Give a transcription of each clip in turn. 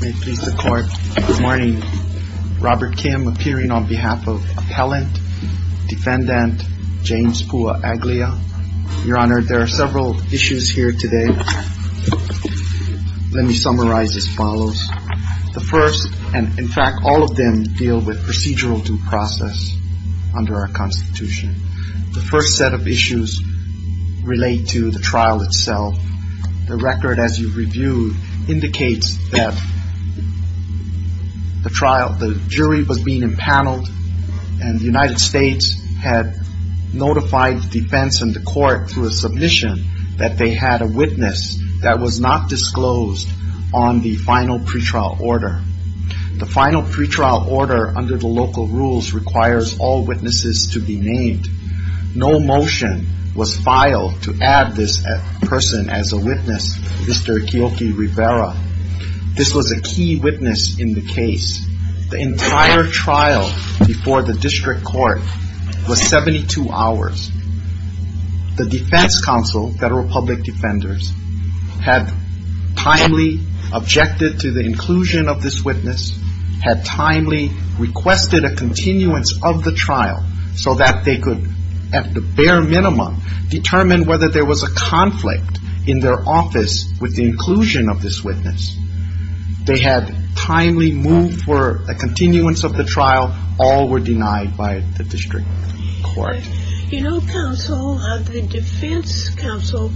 Good morning. Robert Kim appearing on behalf of Appellant Defendant James Pua Aglia. Your Honor, there are several issues here today. Let me summarize as follows. The first, and in fact all of them deal with procedural due process under our Constitution. The first set of issues relate to the trial itself. The record, as you've reviewed, indicates that the jury was being impaneled and the United States had notified the defense and the court through a submission that they had a witness that was not disclosed on the final pretrial order. The final pretrial order, under the local rules, requires all witnesses to be named. No motion was filed to add this person as a witness, Mr. Ikeoki Rivera. This was a key witness in the case. The entire trial before the district court was 72 hours. The defense counsel, federal public defenders, had timely objected to the inclusion of this trial so that they could, at the bare minimum, determine whether there was a conflict in their office with the inclusion of this witness. They had timely moved for a continuance of the trial. All were denied by the district court. You know, counsel, the defense counsel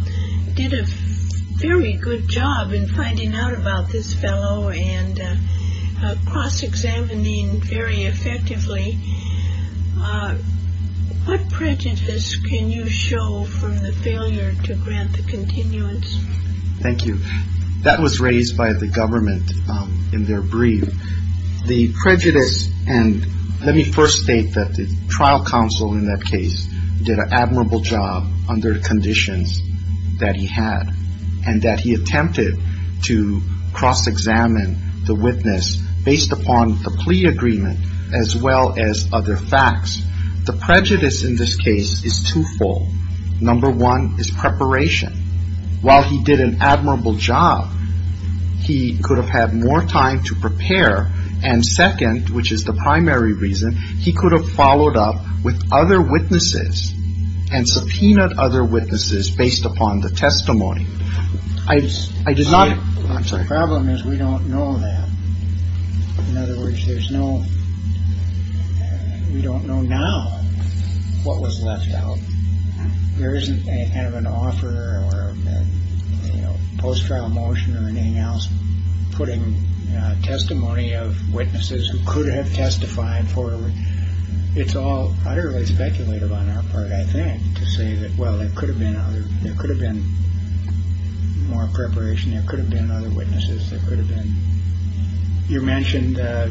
did a very good job in finding out about this fellow and cross-examining very effectively. What prejudice can you show from the failure to grant the continuance? Thank you. That was raised by the government in their brief. The prejudice and let me first state that the trial counsel in that case did an admirable job under the conditions that he had and that he attempted to cross-examine the witness based upon the plea agreement as well as other facts. The prejudice in this case is twofold. Number one is preparation. While he did an admirable job, he could have had more time to prepare. And second, which is the primary reason, he could have followed up with other witnesses and subpoenaed other witnesses based upon the testimony. I did not The problem is we don't know that. In other words, there's no, we don't know now what was left out. There isn't any kind of an offer or a post-trial motion or anything else putting testimony of witnesses who could have testified for. It's all utterly speculative on our part, I think, to say that, well, there could have been other, there could have been more preparation. There could have been other witnesses that could have been. You mentioned that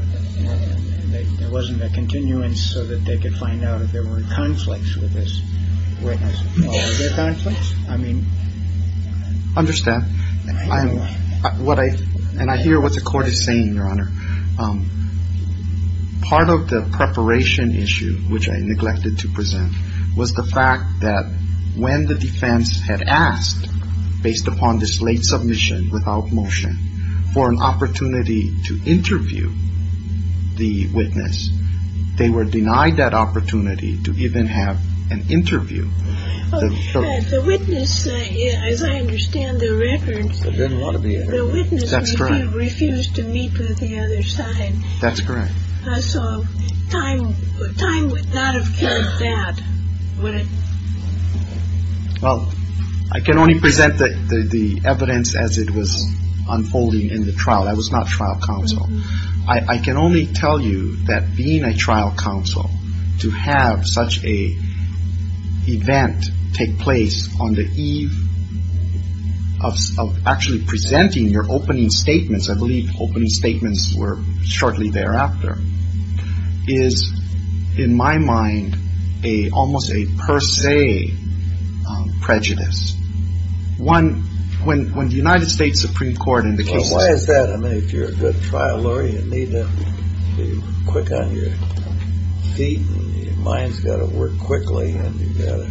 there wasn't a continuance so that they could find out if there were conflicts with this witness. I mean, I understand what I and I hear what the court is saying, Your Honor. Part of the preparation issue, which I neglected to present, was the fact that when the defense had asked based upon this late submission without motion for an opportunity to interview the witness, they were denied that opportunity to even have an interview. The witness, as I understand the record, refused to meet with the other side. That's correct. So time would not have killed that, would it? Well, I can only present the evidence as it was unfolding in the trial. That was not trial counsel. I can only tell you that being a trial counsel, to have such an event take place on the eve of actually presenting your opening statements, I believe opening statements were shortly thereafter, is, in my mind, almost a per se prejudice. One, when the United States Supreme Court in the case... Well, why is that? I mean, if you're a good trial lawyer, you need to be quick on your feet and your mind's got to work quickly and you've got to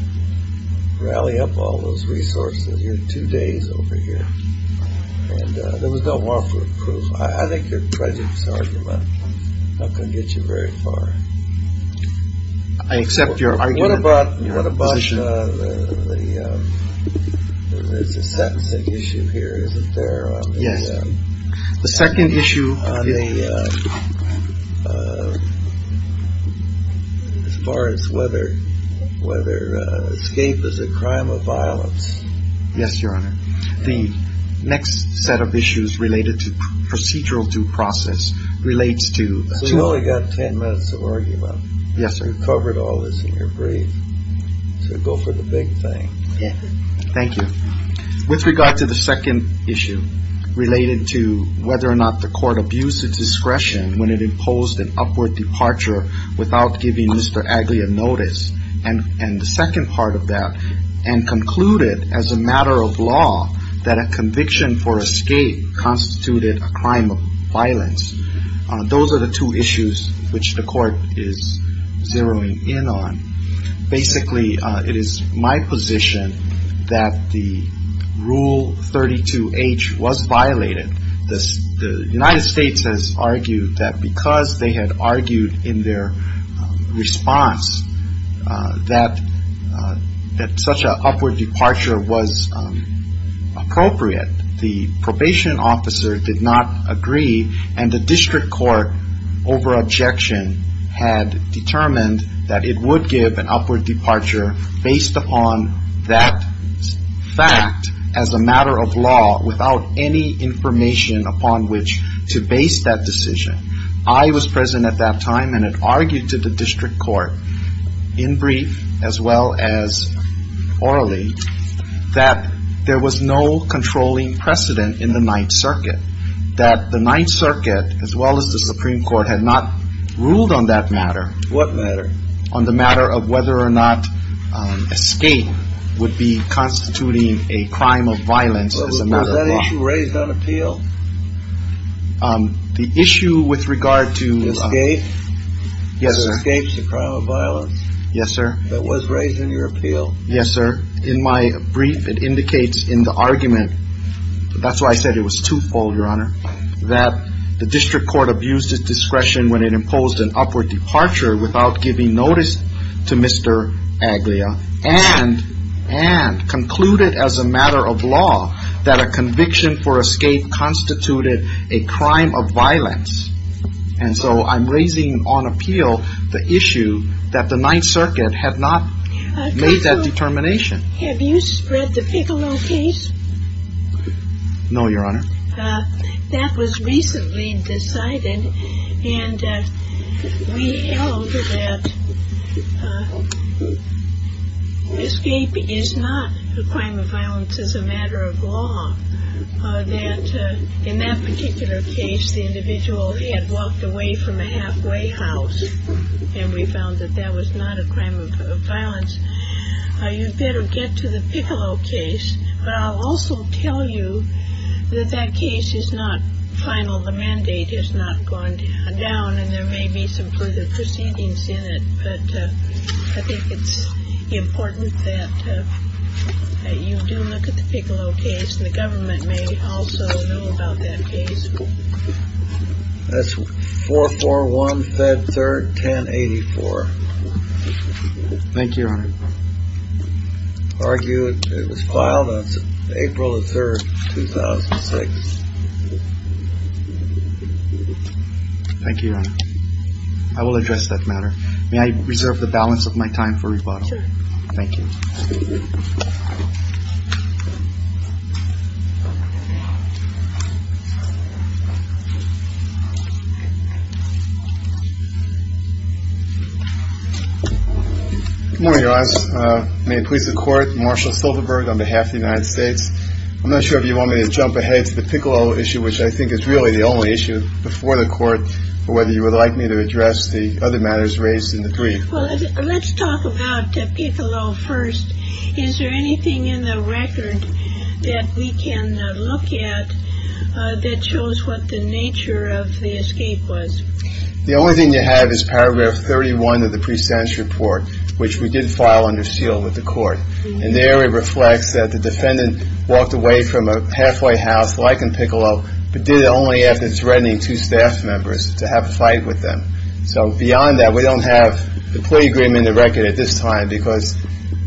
rally up all those resources. You're two days over here and there was no warrant for approval. I think your presence argument is not going to get you very far. I accept your argument. What about the second issue here, isn't there? Yes. The second issue... As far as whether escape is a crime of violence. Yes, Your Honor. The next set of issues related to procedural due process relates to... So you've only got ten minutes of argument. Yes, sir. You've covered all this in your brief. So go for the big thing. Thank you. With regard to the second issue related to whether or not the court abused its discretion when it imposed an upward departure without giving Mr. Agley a notice, and the second part of that, and concluded as a matter of law that a conviction for escape constituted a crime of violence. Those are the two issues which the court is zeroing in on. Basically, it is my position that the Rule 32H was violated. The United States has argued that because they had argued in their response that such an upward departure was appropriate, the probation officer did not agree, and the district court, over objection, had determined that it would give an upward departure based upon that fact as a matter of law, without any information upon which to base that decision. I was present at that time and had argued to the district court, in brief as well as orally, that there was no controlling precedent in the Ninth Circuit, that the Ninth Circuit, as well as the Supreme Court, had not ruled on that matter. What matter? On the matter of whether or not escape would be constituting a crime of violence as a matter of law. Was that issue raised on appeal? The issue with regard to escape? Yes, sir. Yes, sir. In my brief, it indicates in the argument, that's why I said it was twofold, Your Honor, that the district court abused its discretion when it imposed an upward departure without giving notice to Mr. Aglia, and concluded as a matter of law that a conviction for escape constituted a crime of violence. And so I'm raising on appeal the issue that the Ninth Circuit had not made that determination. Have you spread the Piccolo case? No, Your Honor. That was recently decided, and we held that escape is not a crime of violence as a matter of law. That in that particular case, the individual had walked away from a halfway house, and we found that that was not a crime of violence. You'd better get to the Piccolo case, but I'll also tell you that that case is not final. The mandate has not gone down, and there may be some further proceedings in it, but I think it's important that you do look at the Piccolo case. And the government may also know about that case. That's 441 Fed Third, 1084. Thank you, Your Honor. Argue it was filed on April the 3rd, 2006. Thank you, Your Honor. I will address that matter. May I reserve the balance of my time for rebuttal? Thank you. Good morning, Your Honor. May it please the Court. Marshall Silverberg on behalf of the United States. I'm not sure if you want me to jump ahead to the Piccolo issue, which I think is really the only issue before the court, or whether you would like me to address the other matters raised in the brief. Well, let's talk about Piccolo first. Is there anything in the record that we can look at that shows what the nature of the escape was? The only thing you have is paragraph 31 of the pre-sentence report, which we did file under seal with the court. And there it reflects that the defendant walked away from a halfway house like in Piccolo, but did it only after threatening two staff members to have a fight with them. So beyond that, we don't have the plea agreement in the record at this time, because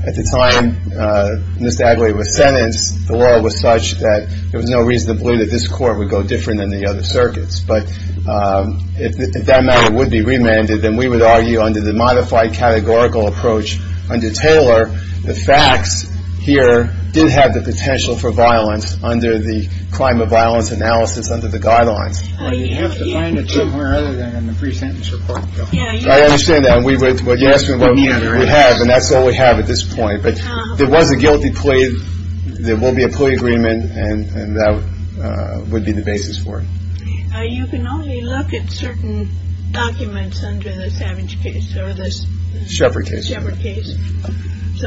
at the time Ms. Adlai was sentenced, the law was such that there was no reason to believe that this court would go different than the other circuits. But if that matter would be remanded, then we would argue under the modified categorical approach under Taylor, the facts here did have the potential for violence under the crime of violence analysis under the guidelines. You have to find it somewhere other than the pre-sentence report. I understand that. And we would. Yes, we have. And that's all we have at this point. But there was a guilty plea. There will be a plea agreement. And that would be the basis for it. You can only look at certain documents under the Savage case or this Shepard case. So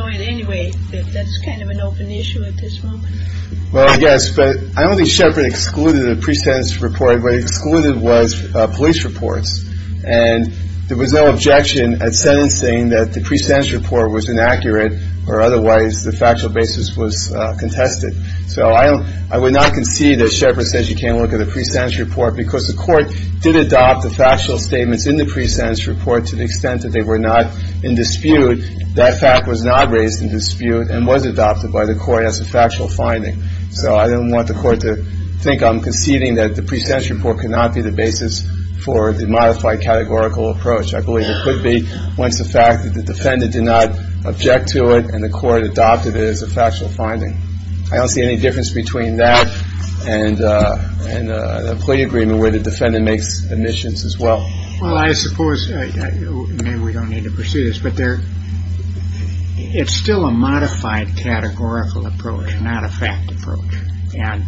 in any way, that's kind of an open issue at this moment. Well, I guess. But I don't think Shepard excluded a pre-sentence report. What he excluded was police reports. And there was no objection at sentencing that the pre-sentence report was inaccurate or otherwise the factual basis was contested. So I don't I would not concede that Shepard says you can't look at the pre-sentence report because the court did adopt the factual statements in the pre-sentence report to the extent that they were not in dispute. That fact was not raised in dispute and was adopted by the court as a factual finding. So I don't want the court to think I'm conceding that the pre-sentence report could not be the basis for the modified categorical approach. I believe it could be once the fact that the defendant did not object to it and the court adopted it as a factual finding. I don't see any difference between that and a plea agreement where the defendant makes omissions as well. Well, I suppose we don't need to pursue this, but there it's still a modified categorical approach, not a fact approach. And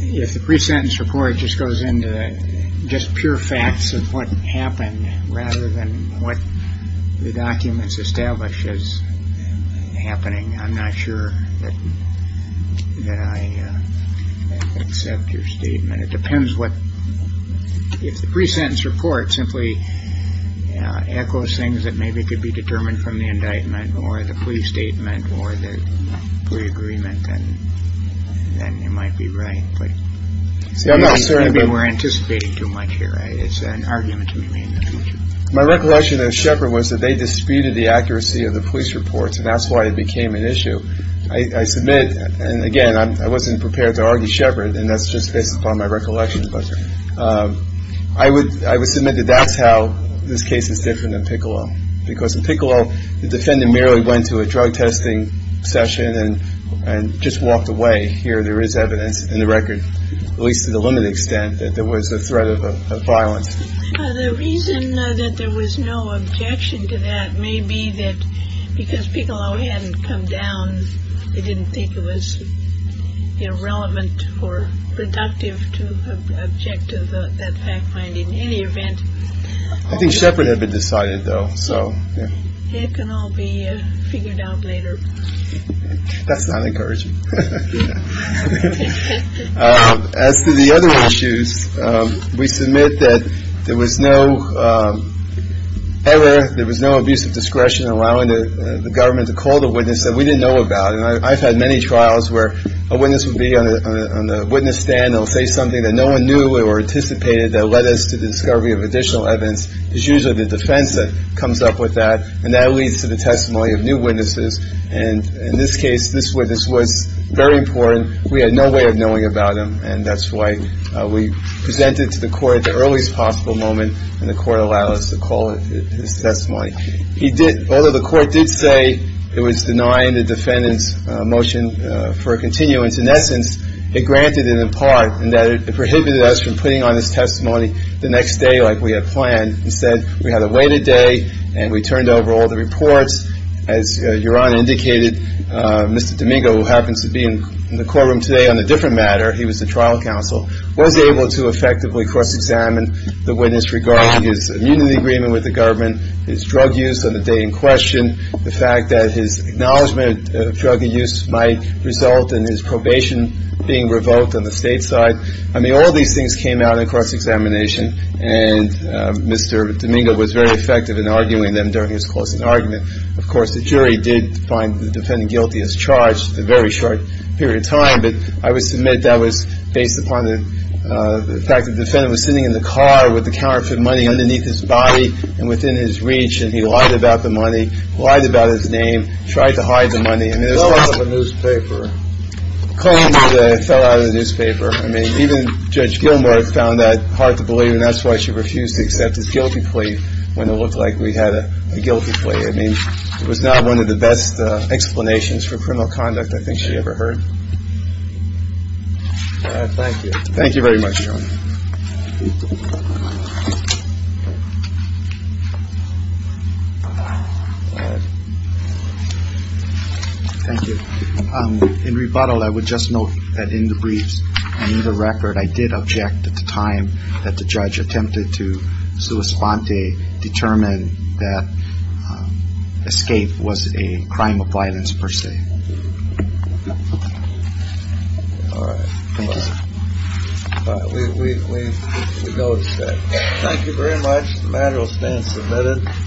if the pre-sentence report just goes into just pure facts of what happened rather than what the documents establish is happening. I'm not sure that I accept your statement. It depends what if the pre-sentence report simply echoes things that maybe could be determined from the indictment or the plea statement or the plea agreement. And then you might be right. But I'm not certain we're anticipating too much here. It's an argument to be made in the future. My recollection of Shepard was that they disputed the accuracy of the police reports. And that's why it became an issue. I submit, and again, I wasn't prepared to argue Shepard, and that's just based upon my recollection. But I would submit that that's how this case is different in Piccolo. Because in Piccolo, the defendant merely went to a drug testing session and just walked away. Here there is evidence in the record, at least to the limited extent, that there was a threat of violence. The reason that there was no objection to that may be that because Piccolo hadn't come down, they didn't think it was relevant or productive to object to that fact finding. In any event. I think Shepard had been decided, though. So it can all be figured out later. That's not encouraging. As to the other issues, we submit that there was no error. There was no abuse of discretion allowing the government to call the witness that we didn't know about. And I've had many trials where a witness would be on the witness stand. They'll say something that no one knew or anticipated that led us to the discovery of additional evidence. It's usually the defense that comes up with that. And that leads to the testimony of new witnesses. And in this case, this witness was very important. We had no way of knowing about him. And that's why we presented to the court at the earliest possible moment. And the court allowed us to call his testimony. He did. Although the court did say it was denying the defendant's motion for a continuance, in essence, it granted it in part in that it prohibited us from putting on his testimony the next day like we had planned. Instead, we had a weighted day, and we turned over all the reports. As Your Honor indicated, Mr. Domingo, who happens to be in the courtroom today on a different matter, he was the trial counsel, was able to effectively cross-examine the witness regarding his immunity agreement with the government, his drug use on the day in question, the fact that his acknowledgment of drug use might result in his probation being revoked on the state side. I mean, all these things came out in cross-examination. And Mr. Domingo was very effective in arguing them during his closing argument. Of course, the jury did find the defendant guilty as charged for a very short period of time. But I would submit that was based upon the fact that the defendant was sitting in the car with the counterfeit money underneath his body and within his reach, and he lied about the money, lied about his name, tried to hide the money. He fell out of a newspaper. Claimed that he fell out of the newspaper. I mean, even Judge Gilmore found that hard to believe, and that's why she refused to accept his guilty plea when it looked like we had a guilty plea. I mean, it was not one of the best explanations for criminal conduct I think she ever heard. Thank you. Thank you very much, Your Honor. Thank you. In rebuttal, I would just note that in the briefs and in the record, I did object at the time that the judge attempted to sua sponte, determine that escape was a crime of violence per se. All right. Thank you, sir. All right. We go instead. Thank you very much. The matter will stand submitted.